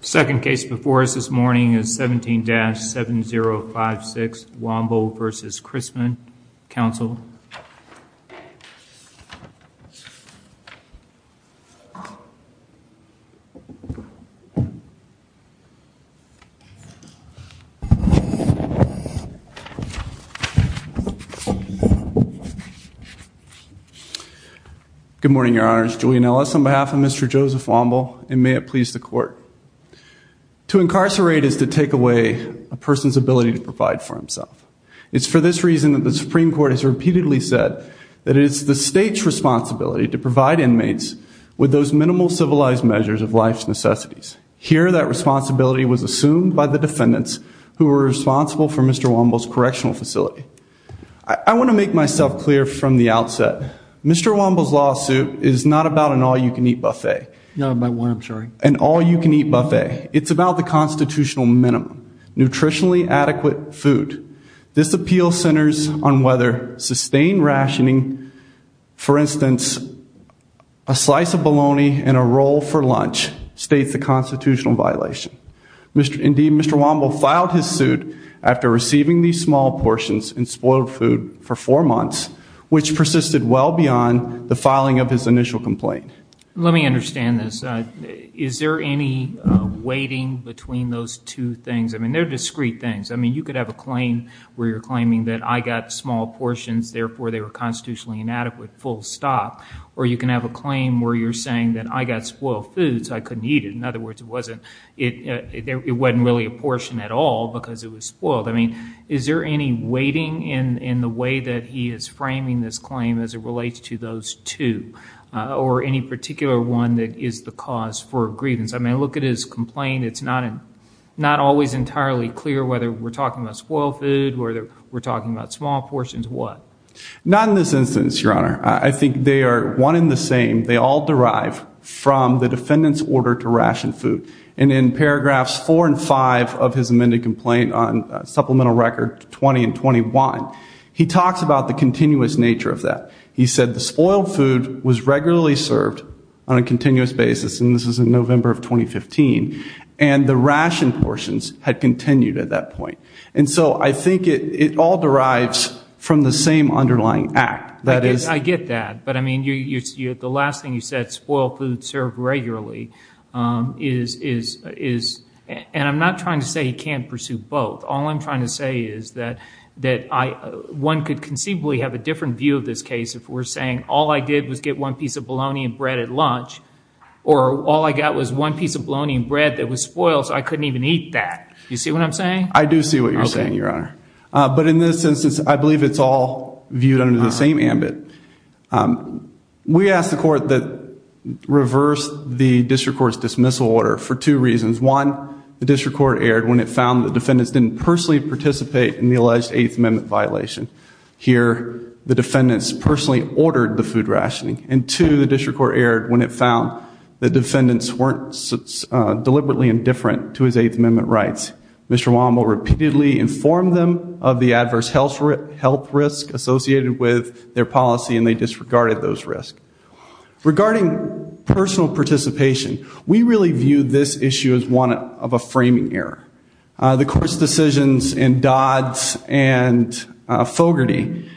The second case before us this morning is 17-7056 Womble v. Chrisman. Counsel. Good morning, Your Honors. Julian Ellis on behalf of Mr. Joseph Womble, and may it please the Court. To incarcerate is to take away a person's ability to provide for himself. It is for this reason that the Supreme Court has repeatedly said that it is the State's responsibility to provide inmates with those minimal civilized measures of life's necessities. Here that responsibility was assumed by the defendants who were responsible for Mr. Womble's correctional facility. I want to make myself clear from the outset. Mr. Womble's lawsuit is not about an all-you-can-eat buffet. An all-you-can-eat buffet. It's about the constitutional minimum, nutritionally adequate food. This appeal centers on whether sustained rationing, for instance, a slice of bologna and a roll for lunch, states the constitutional violation. Indeed, Mr. Womble filed his suit after receiving these small portions in spoiled food for four months, which persisted well beyond the filing of his initial complaint. Let me understand this. Is there any weighting between those two things? I mean, they're discrete things. I mean, you could have a claim where you're claiming that I got small portions, therefore they were constitutionally inadequate, full stop. Or you can have a claim where you're saying that I got spoiled food, so I couldn't eat it. In other words, it wasn't really a portion at all because it was spoiled. I mean, is there any weighting in the way that he is framing this claim as it relates to those two, or any particular one that is the cause for grievance? I mean, look at his complaint. It's not always entirely clear whether we're talking about spoiled food, whether we're talking about small portions, what? Not in this instance, Your Honor. I think they are one and the same. They all derive from the defendant's order to ration food. And in paragraphs four and five of his amended complaint on supplemental record 20 and 21, he talks about the continuous nature of that. He said the spoiled food was regularly served on a continuous basis, and this is in November of 2015, and the ration portions had continued at that point. And so I think it all derives from the same underlying act, that is I get that. But I mean, the last thing you said, spoiled food served regularly, is, and I'm not trying to say he can't pursue both. All I'm trying to say is that one could conceivably have a different view of this case if we're saying all I did was get one piece of bologna and bread at lunch, or all I got was one piece of bologna and bread that was spoiled, so I couldn't even eat that. You see what I'm saying? I do see what you're saying, Your Honor. But in this instance, I believe it's all viewed under the same ambit. We asked the court that reversed the district court's dismissal order for two reasons. One, the district court erred when it found the defendants didn't personally participate in the alleged Eighth Amendment violation. Here, the defendants personally ordered the food rationing. And two, the district court erred when it found the defendants weren't deliberately indifferent to his Eighth Amendment rights. Mr. Wommel repeatedly informed them of the adverse health risk associated with their policy, and they disregarded those risks. Regarding personal participation, we really view this issue as one of a framing error. The court's decisions in Dodd's and Fogarty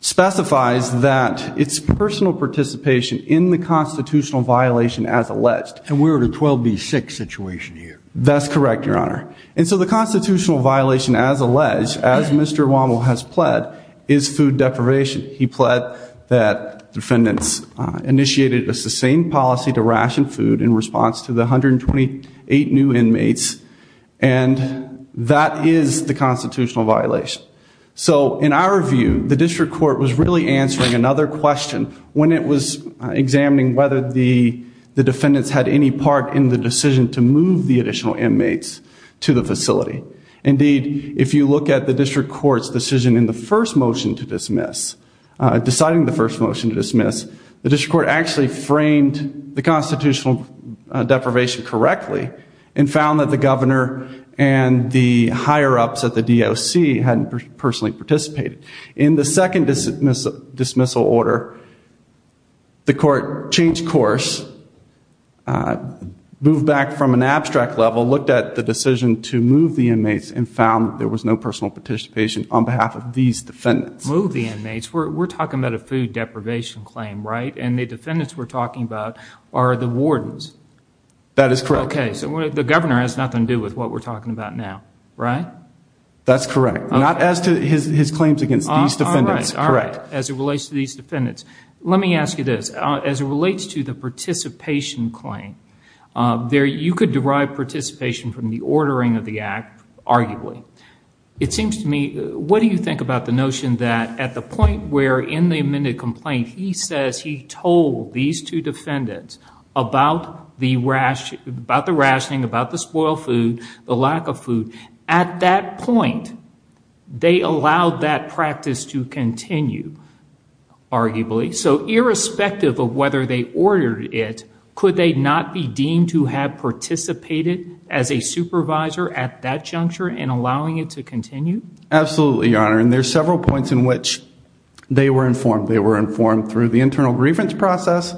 specifies that it's personal participation in the constitutional violation as alleged. And we're at a 12B6 situation here. That's correct, Your Honor. And so the constitutional violation as alleged, as Mr. Wommel has pled, is food deprivation. He pled that defendants initiated a sustained policy to ration food in response to the 128 new inmates. And that is the constitutional violation. So in our view, the district court was really answering another question when it was examining whether the defendants had any part in the decision to move the additional inmates to the facility. Indeed, if you look at the district court's decision in the first motion to dismiss, deciding the first motion to dismiss, the district court actually framed the constitutional deprivation correctly and found that the governor and the higher-ups at the DOC hadn't personally participated. In the second dismissal order, the court changed course, moved back from an abstract level, looked at the decision to move the inmates, and found there was no personal participation on behalf of these defendants. Move the inmates. We're talking about a food deprivation claim, right? And the defendants we're talking about are the wardens. That is correct. Okay. So the governor has nothing to do with what we're talking about now, right? That's correct. Not as to his claims against these defendants. All right. All right. As it relates to these defendants. Let me ask you this. As it relates to the participation claim, you could derive participation from the ordering of the act, arguably. It seems to me, what do you think about the notion that at the point where in the amended complaint he says he told these two defendants about the rationing, about the spoiled food, the lack of food, at that point, they allowed that practice to continue, arguably. So irrespective of whether they ordered it, could they not be deemed to have participated as a supervisor at that juncture in allowing it to continue? Absolutely, Your Honor. And there's several points in which they were informed. They were informed through the internal grievance process.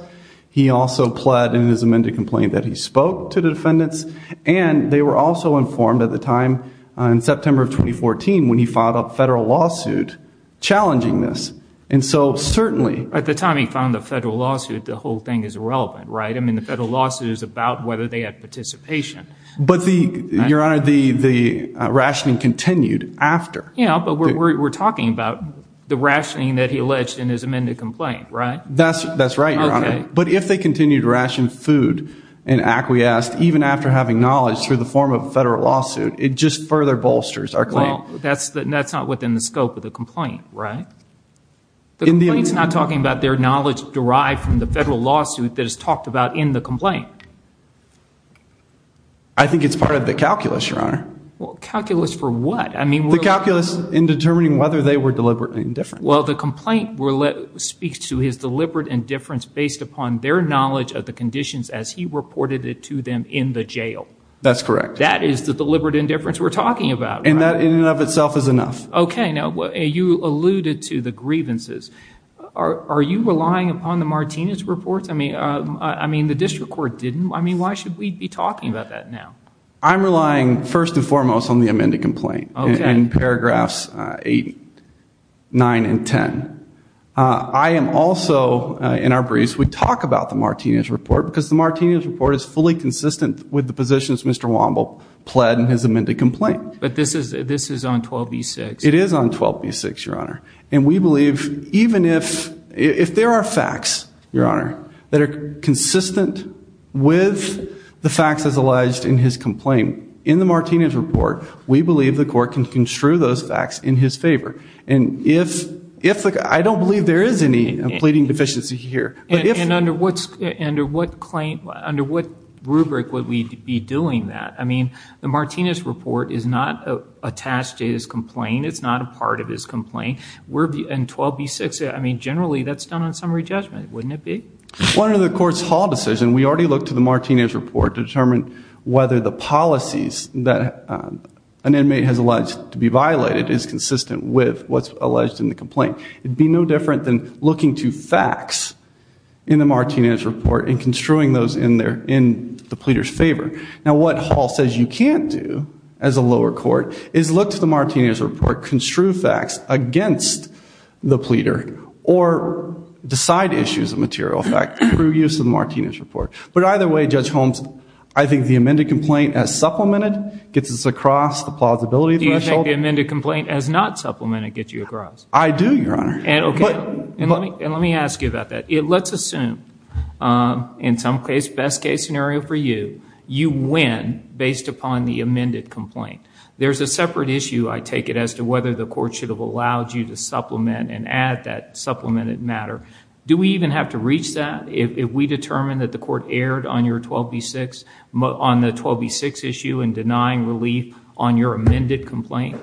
He also pled in his amended complaint that he spoke to the defendants. And they were also informed at the time, in September of 2014, when he filed a federal lawsuit challenging this. And so, certainly. At the time he found the federal lawsuit, the whole thing is irrelevant, right? I mean, the federal lawsuit is about whether they had participation. But the, Your Honor, the rationing continued after. Yeah, but we're talking about the rationing that he alleged in his amended complaint, right? That's right, Your Honor. Okay. But if they continued to ration food and acquiesced, even after having knowledge through the form of a federal lawsuit, it just further bolsters our claim. Well, that's not within the scope of the complaint, right? The complaint's not talking about their knowledge derived from the federal lawsuit that is talked about in the complaint. I think it's part of the calculus, Your Honor. Calculus for what? The calculus in determining whether they were deliberately indifferent. Well, the complaint speaks to his deliberate indifference based upon their knowledge of the conditions as he reported it to them in the jail. That's correct. That is the deliberate indifference we're talking about. And that, in and of itself, is enough. Okay. Now, you alluded to the grievances. Are you relying upon the Martinez reports? I mean, the district court didn't. I mean, why should we be talking about that now? I'm relying, first and foremost, on the amended complaint in paragraphs eight, nine, and ten. I am also, in our briefs, we talk about the Martinez report because the Martinez report is fully consistent with the positions Mr. Wamble pled in his amended complaint. But this is on 12b-6. It is on 12b-6, Your Honor. And we believe, even if there are facts, Your Honor, that are consistent with the facts as alleged in his complaint, in the Martinez report, we believe the court can construe those facts in his favor. And I don't believe there is any pleading deficiency here. And under what rubric would we be doing that? I mean, the Martinez report is not attached to his complaint. It's not a part of his complaint. And 12b-6, I mean, generally, that's done on summary judgment, wouldn't it be? One of the court's hall decisions, we already looked to the Martinez report to determine whether the policies that an inmate has alleged to be violated is consistent with what's alleged in the complaint. It'd be no different than looking to facts in the Martinez report and construing those in the pleader's favor. Now, what Hall says you can't do as a lower court is look to the Martinez report, construe facts against the pleader, or decide issues of material effect through use of the Martinez report. But either way, Judge Holmes, I think the amended complaint as supplemented gets us across the plausibility threshold. Do you think the amended complaint as not supplemented gets you across? I do, Your Honor. And let me ask you about that. Let's assume, in some case, best case scenario for you, you win based upon the amended complaint. There's a separate issue, I take it, as to whether the court should have allowed you to supplement and add that supplemented matter. Do we even have to reach that if we determine that the court erred on the 12b-6 issue in denying relief on your amended complaint?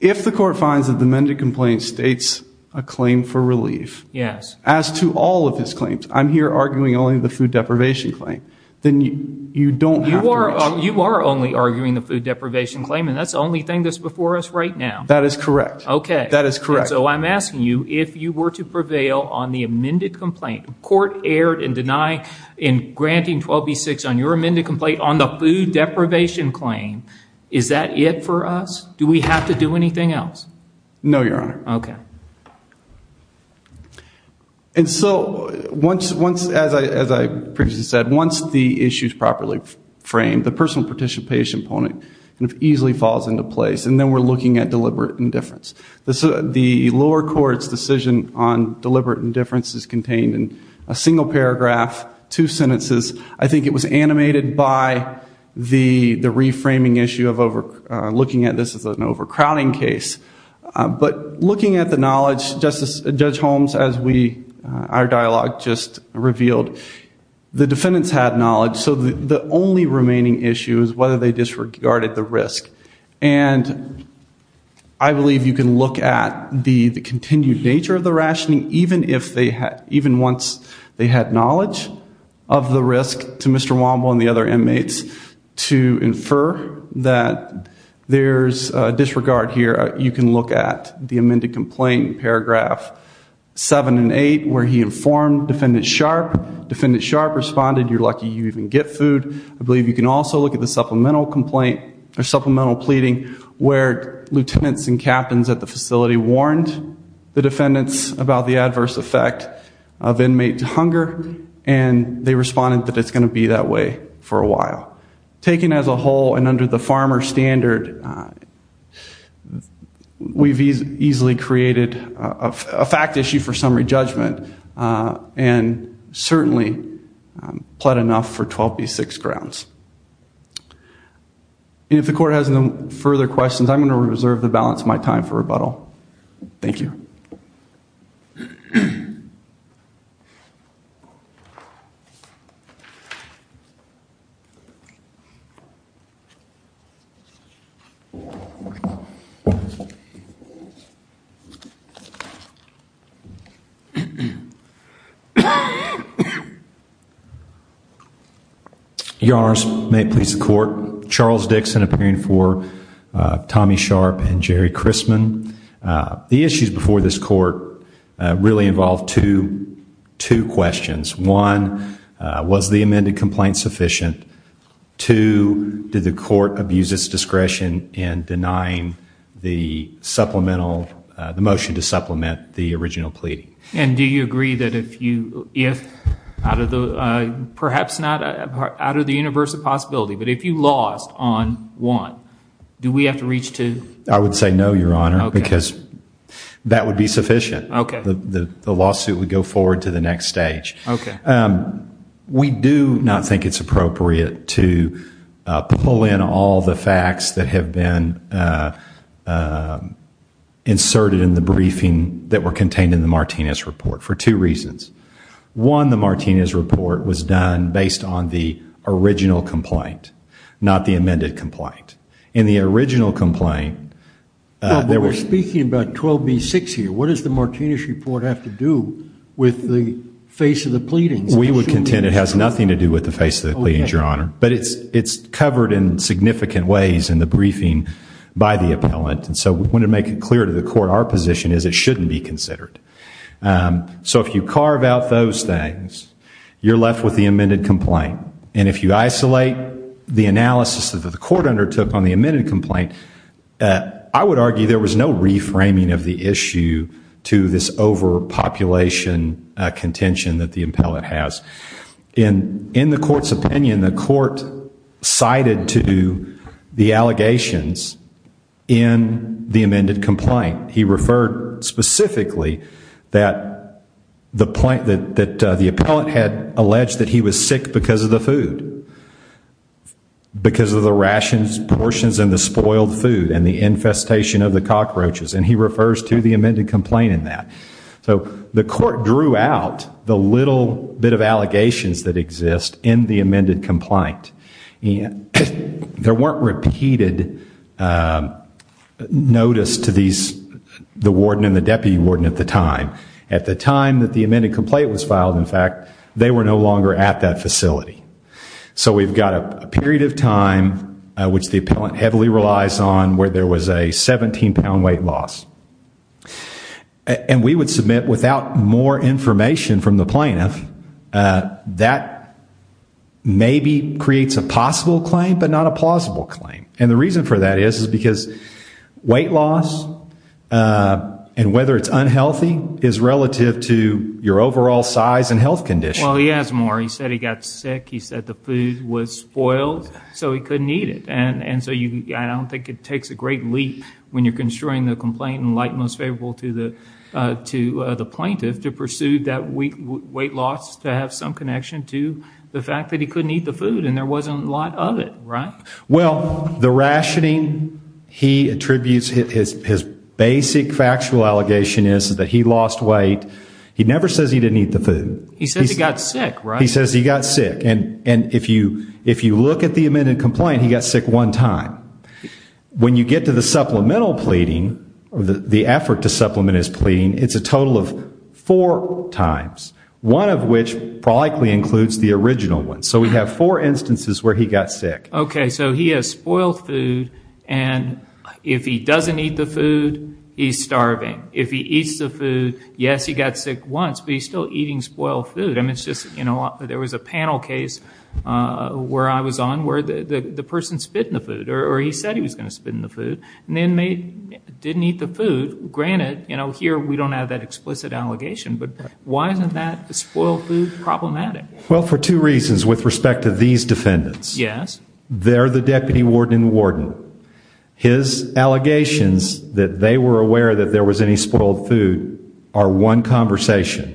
If the court finds that the amended complaint states a claim for relief. Yes. As to all of his claims. I'm here arguing only the food deprivation claim. Then you don't have to reach. You are only arguing the food deprivation claim, and that's the only thing that's before us right now. That is correct. Okay. That is correct. So I'm asking you, if you were to prevail on the amended complaint, court erred and deny in granting 12b-6 on your amended complaint on the food deprivation claim, is that it for us? Do we have to do anything else? No, Your Honor. Okay. Thank you. And so, as I previously said, once the issue is properly framed, the personal participation component easily falls into place, and then we're looking at deliberate indifference. The lower court's decision on deliberate indifference is contained in a single paragraph, two sentences. I think it was animated by the reframing issue of looking at this as an overcrowding case. But looking at the knowledge, Judge Holmes, as our dialogue just revealed, the defendants had knowledge. So the only remaining issue is whether they disregarded the risk. And I believe you can look at the continued nature of the rationing, even once they had knowledge of the risk, to Mr. Womble and the other inmates, to infer that there's disregard here. You can look at the amended complaint, paragraph seven and eight, where he informed Defendant Sharp. Defendant Sharp responded, you're lucky you even get food. I believe you can also look at the supplemental complaint, or supplemental pleading, where lieutenants and captains at the facility warned the defendants about the adverse effect of inmates' hunger, and they responded that it's going to be that way for a while. Taken as a whole, and under the farmer standard, we've easily created a fact issue for summary judgment, and certainly plot enough for 12B6 grounds. And if the court has no further questions, I'm going to reserve the balance of my time for rebuttal. Thank you. Your Honors, may it please the court, Charles Dixon appearing for Tommy Sharp and Jerry Christman. The issues before this court really involve two questions. One, was the amended complaint sufficient? Two, did the court abuse its discretion in denying the motion to supplement the original pleading? And do you agree that if, perhaps not out of the universe of possibility, but if you lost on one, do we have to reach two? I would say no, Your Honor, because that would be sufficient. The lawsuit would go forward to the next stage. We do not think it's appropriate to pull in all the facts that have been inserted in the briefing that were contained in the Martinez report, for two reasons. One, the Martinez report was done based on the original complaint, not the amended complaint. In the original complaint, there was... What does the Martinez report have to do with the face of the pleadings? We would contend it has nothing to do with the face of the pleadings, Your Honor. But it's covered in significant ways in the briefing by the appellant, and so we want to make it clear to the court our position is it shouldn't be considered. So if you carve out those things, you're left with the amended complaint. And if you isolate the analysis that the court undertook on the amended complaint, I would reframing of the issue to this overpopulation contention that the appellant has. In the court's opinion, the court cited to the allegations in the amended complaint, he referred specifically that the appellant had alleged that he was sick because of the rations, portions, and the spoiled food, and the infestation of the cockroaches. And he refers to the amended complaint in that. So the court drew out the little bit of allegations that exist in the amended complaint. There weren't repeated notice to the warden and the deputy warden at the time. At the time that the amended complaint was filed, in fact, they were no longer at that facility. So we've got a period of time which the appellant heavily relies on where there was a 17-pound weight loss. And we would submit without more information from the plaintiff that maybe creates a possible claim but not a plausible claim. And the reason for that is because weight loss and whether it's unhealthy is relative to your overall size and health condition. Well, he has more. He said he got sick. He said the food was spoiled so he couldn't eat it. And so I don't think it takes a great leap when you're construing the complaint in light most favorable to the plaintiff to pursue that weight loss to have some connection to the fact that he couldn't eat the food and there wasn't a lot of it, right? Well, the rationing he attributes, his basic factual allegation is that he lost weight. He never says he didn't eat the food. He says he got sick, right? He says he got sick. And if you look at the amended complaint, he got sick one time. When you get to the supplemental pleading, the effort to supplement his pleading, it's a total of four times, one of which likely includes the original one. So we have four instances where he got sick. Okay. So he has spoiled food and if he doesn't eat the food, he's starving. If he eats the food, yes, he got sick once, but he's still eating spoiled food. I mean, it's just, you know, there was a panel case where I was on where the person spit in the food or he said he was going to spit in the food and the inmate didn't eat the food. Granted, you know, here we don't have that explicit allegation, but why isn't that spoiled food problematic? Well, for two reasons with respect to these defendants. Yes. They're the deputy warden and the warden. His allegations that they were aware that there was any spoiled food are one conversation.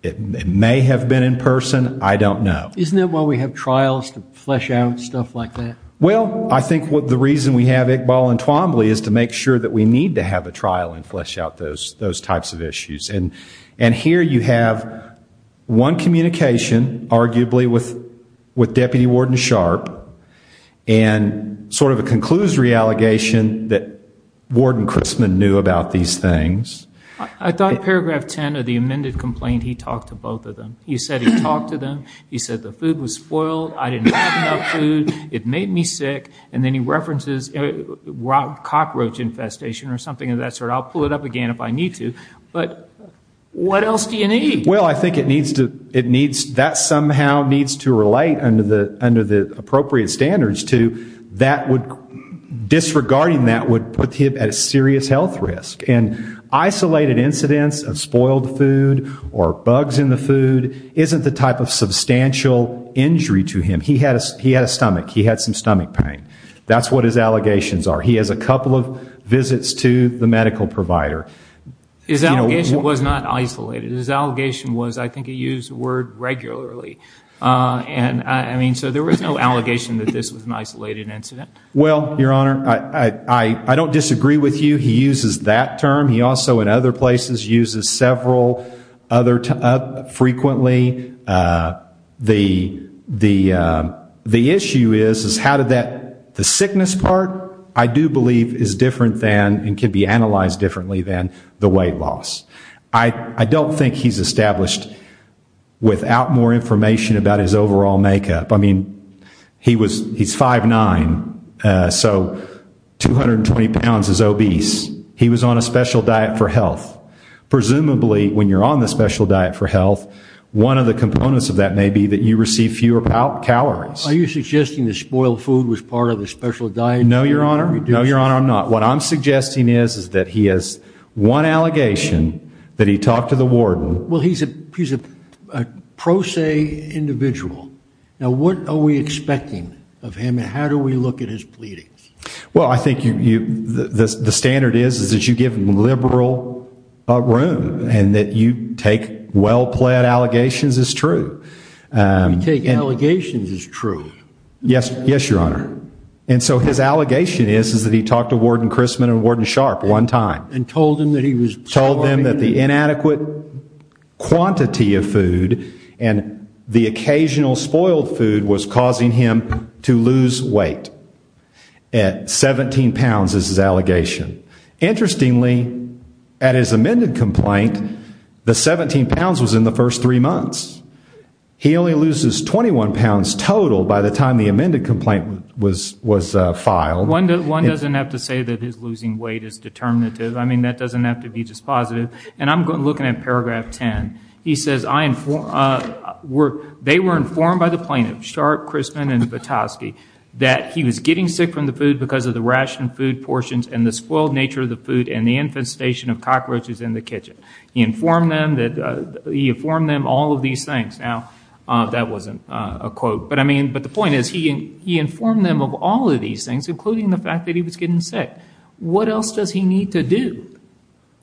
It may have been in person. I don't know. Isn't that why we have trials to flesh out stuff like that? Well, I think the reason we have Iqbal and Twombly is to make sure that we need to have a trial and flesh out those types of issues. And here you have one communication arguably with Deputy Warden Sharp and sort of a conclusory allegation that Warden Christman knew about these things. I thought paragraph 10 of the amended complaint, he talked to both of them. He said he talked to them. He said the food was spoiled. I didn't have enough food. It made me sick. And then he references cockroach infestation or something of that sort. I'll pull it up again if I need to. But what else do you need? Well, I think it needs to it needs that somehow needs to relate under the under the appropriate standards to that would disregarding that would put him at a serious health risk. And isolated incidents of spoiled food or bugs in the food isn't the type of substantial injury to him. He had he had a stomach. He had some stomach pain. That's what his allegations are. He has a couple of visits to the medical provider. His allegation was not isolated. His allegation was I think he used the word regularly. And I mean, so there was no allegation that this was an isolated incident. Well, Your Honor, I don't disagree with you. He uses that term. He also in other places uses several other frequently. The the the issue is, is how did that the sickness part I do believe is different than and can be analyzed differently than the weight loss. I don't think he's established without more information about his overall makeup. I mean, he was he's five nine. So 220 pounds is obese. He was on a special diet for health. Presumably, when you're on the special diet for health, one of the components of that may be that you receive fewer calories. Are you suggesting the spoiled food was part of the special diet? No, Your Honor. No, Your Honor, I'm not. What I'm suggesting is, is that he has one allegation that he talked to the warden. Well, he's a he's a pro se individual. Now, what are we expecting of him and how do we look at his pleading? Well, I think you the standard is, is that you give liberal room and that you take well pled allegations is true. Take allegations is true. Yes. Yes, Your Honor. And so his allegation is, is that he talked to Warden Chrisman and Warden Sharp one time and told him that he was told them that the inadequate quantity of food and the occasional spoiled food was causing him to lose weight at 17 pounds is his allegation. Interestingly, at his amended complaint, the 17 pounds was in the first three months. He only loses 21 pounds total by the time the amended complaint was was filed. One doesn't have to say that his losing weight is determinative. I mean, that doesn't have to be just positive. And I'm looking at paragraph 10. He says I were they were informed by the plaintiff, Sharp, Chrisman and Petoskey, that he was getting sick from the food because of the rationed food portions and the spoiled nature of the food and the infestation of cockroaches in the kitchen. He informed them that he informed them all of these things. Now, that wasn't a quote. But I mean, but the point is he he informed them of all of these things, including the fact that he was getting sick. What else does he need to do?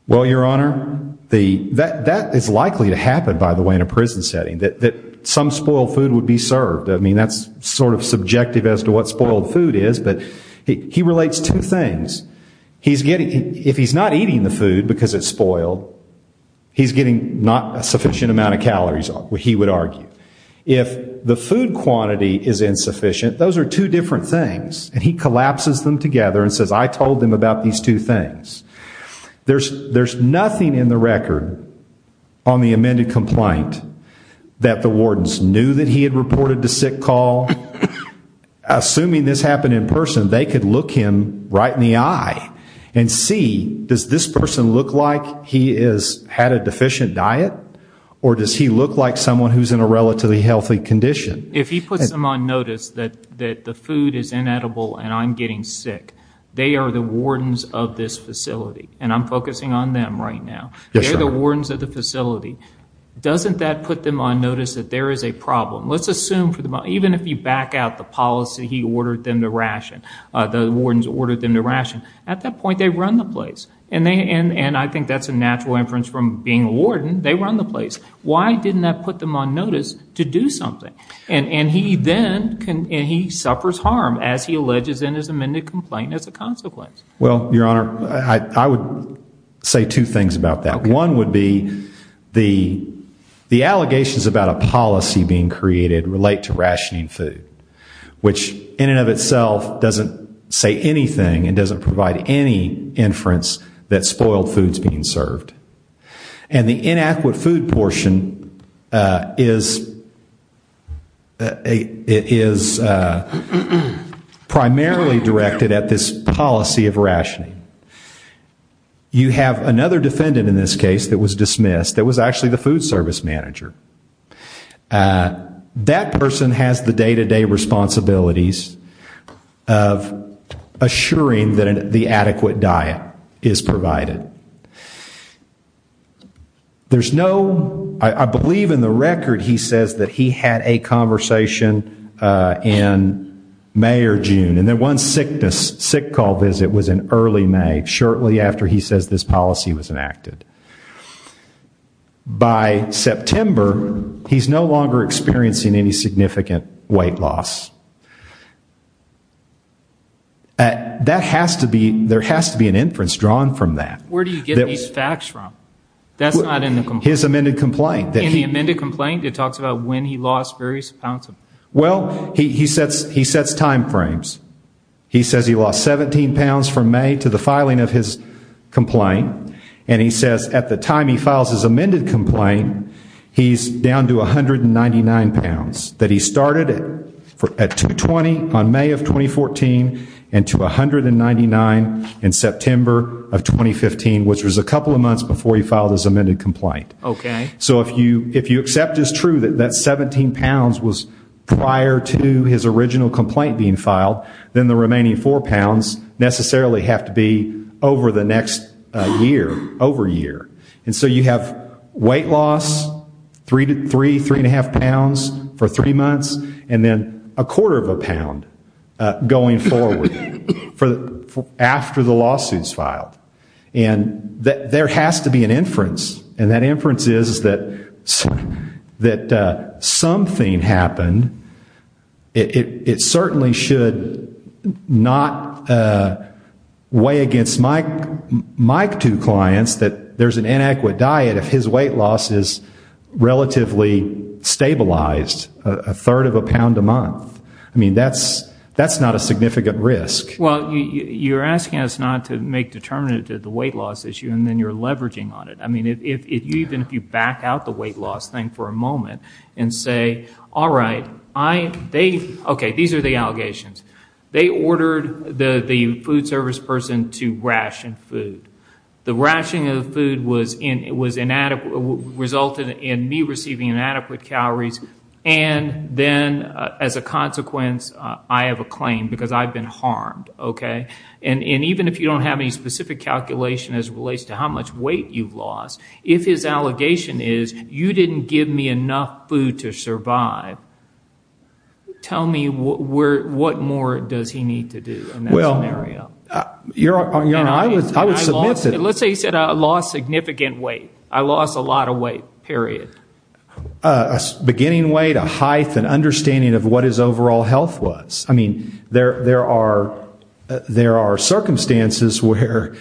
Well, your honor, the that that is likely to happen, by the way, in a prison setting that that some spoiled food would be served. I mean, that's sort of subjective as to what spoiled food is. But he relates to things he's getting. If he's not eating the food because it's spoiled, he's getting not a sufficient amount of calories. He would argue if the food quantity is insufficient, those are two different things. And he collapses them together and says, I told them about these two things. There's there's nothing in the record on the amended complaint that the wardens knew that he had reported the sick call. Assuming this happened in person, they could look him right in the eye and see, does this person look like he is had a deficient diet or does he look like someone who's in a relatively healthy condition? If he puts them on notice that that the food is inedible and I'm getting sick, they are the wardens of this facility and I'm focusing on them right now. They're the wardens of the facility. Doesn't that put them on notice that there is a problem? Let's assume for the moment, even if you back out the policy, he ordered them to ration, the wardens ordered them to ration. At that point, they run the place. And they and I think that's a natural inference from being a warden. They run the place. Why didn't that put them on notice to do something? And he then can and he suffers harm as he alleges in his amended complaint as a consequence. Well, Your Honor, I would say two things about that. One would be the the allegations about a policy being created relate to rationing food, which in and of itself doesn't say anything and doesn't provide any inference that spoiled foods being served. And the inadequate food portion is it is primarily directed at this policy of rationing. You have another defendant in this case that was dismissed that was actually the food service manager. That person has the day to day responsibilities of assuring that the adequate diet is provided. There's no I believe in the record, he says that he had a conversation in May or June and that one sickness sick call visit was in early May, shortly after he says this policy was enacted. By September, he's no longer experiencing any significant weight loss. That has to be there has to be an inference drawn from that. Where do you get these facts from? That's not in his amended complaint that he amended complaint. It talks about when he lost various pounds. Well, he says he sets time frames. He says he lost 17 pounds from May to the filing of his complaint. And he says at the time he files his amended complaint, he's down to 199 pounds that he started at 220 on May of 2014 and to 199 in September of 2015, which was a couple of months before he filed his amended complaint. OK, so if you if you accept is true that that 17 pounds was prior to his original complaint being filed, then the remaining four pounds necessarily have to be over the next year, over a year. And so you have weight loss, three to three, three and a half pounds for three months and then a quarter of a pound going forward for after the lawsuits filed. And there has to be an inference. And that inference is that that something happened. It certainly should not weigh against my two clients that there's an inadequate diet if his weight loss is relatively stabilized, a third of a pound a month. I mean, that's that's not a significant risk. Well, you're asking us not to make determinate to the weight loss issue and then you're leveraging on it. I mean, if you even if you back out the weight loss thing for a moment and say, all right, I they OK, these are the allegations. They ordered the food service person to ration food. The rationing of food was in it was inadequate, resulted in me receiving inadequate calories. And then as a consequence, I have a claim because I've been harmed. OK. And even if you don't have any specific calculation as relates to how much weight you've lost, if his allegation is you didn't give me enough food to survive. Tell me what we're what more does he need to do? Well, you know, I was I was let's say he said I lost significant weight, I lost a lot of weight, period, a beginning weight, a height and understanding of what his overall health was. I mean, there there are there are circumstances where,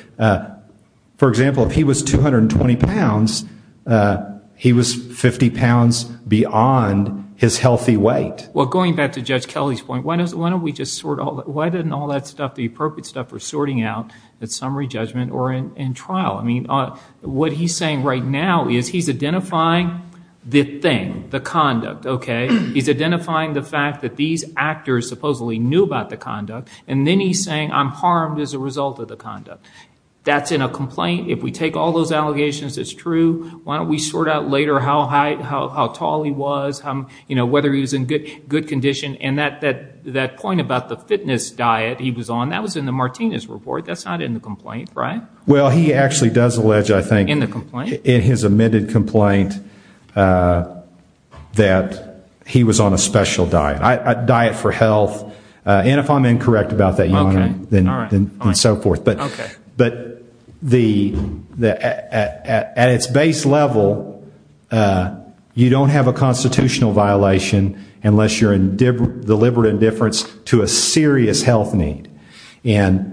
for example, if he was 220 pounds, he was 50 pounds beyond his healthy weight. Well, going back to Judge Kelly's point, why doesn't why don't we just sort out why didn't all that stuff, the appropriate stuff for sorting out that summary judgment or in trial? I mean, what he's saying right now is he's identifying the thing, the conduct. OK. He's identifying the fact that these actors supposedly knew about the conduct. And then he's saying I'm harmed as a result of the conduct. That's in a complaint. If we take all those allegations, it's true. Why don't we sort out later how high, how tall he was, whether he was in good condition and that that that point about the fitness diet he was on that was in the Martinez report. That's not in the complaint. Right. Well, he actually does allege, I think, in the complaint, in his amended complaint, that he was on a special diet, a diet for health. And if I'm incorrect about that, then so forth. But but the the at its base level, you don't have a constitutional violation unless you're in deliberate indifference to a serious health need. And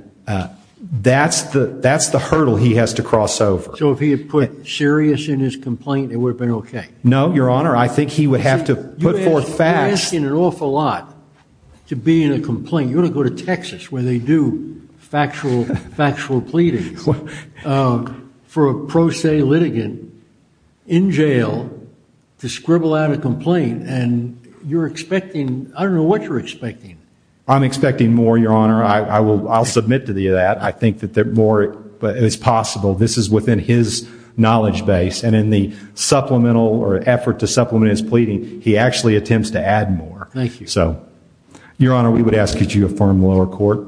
that's the that's the hurdle he has to cross over. So if he had put serious in his complaint, it would have been OK. No, Your Honor, I think he would have to put forth facts. You're asking an awful lot to be in a complaint. You're going to go to Texas where they do factual, factual pleading for a pro se litigant in jail to scribble out a complaint. And you're expecting I don't know what you're expecting. I'm expecting more, Your Honor. I will. I'll submit to that. I think that more is possible. This is within his knowledge base. And in the supplemental or effort to supplement his pleading, he actually attempts to add more. Thank you. Your Honor, we would ask that you affirm lower court.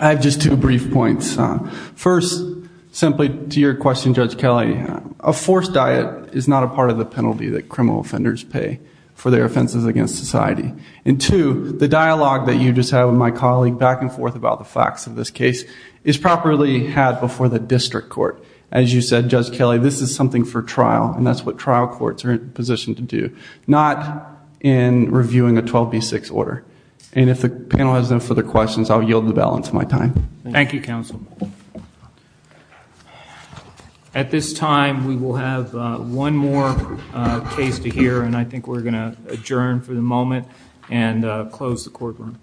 I have just two brief points. First, simply to your question, Judge Kelly, a forced diet is not a part of the penalty that criminal offenders pay for their offenses against society. And two, the dialogue that you just had with my colleague back and forth about the facts of this case is properly had before the district court. As you said, Judge Kelly, this is something for trial. And that's what trial courts are in a position to do, not in reviewing a 12B6 order. And if the panel has no further questions, I'll yield the balance of my time. Thank you, counsel. At this time, we will have one more case to hear, and I think we're going to adjourn for the moment and close the courtroom.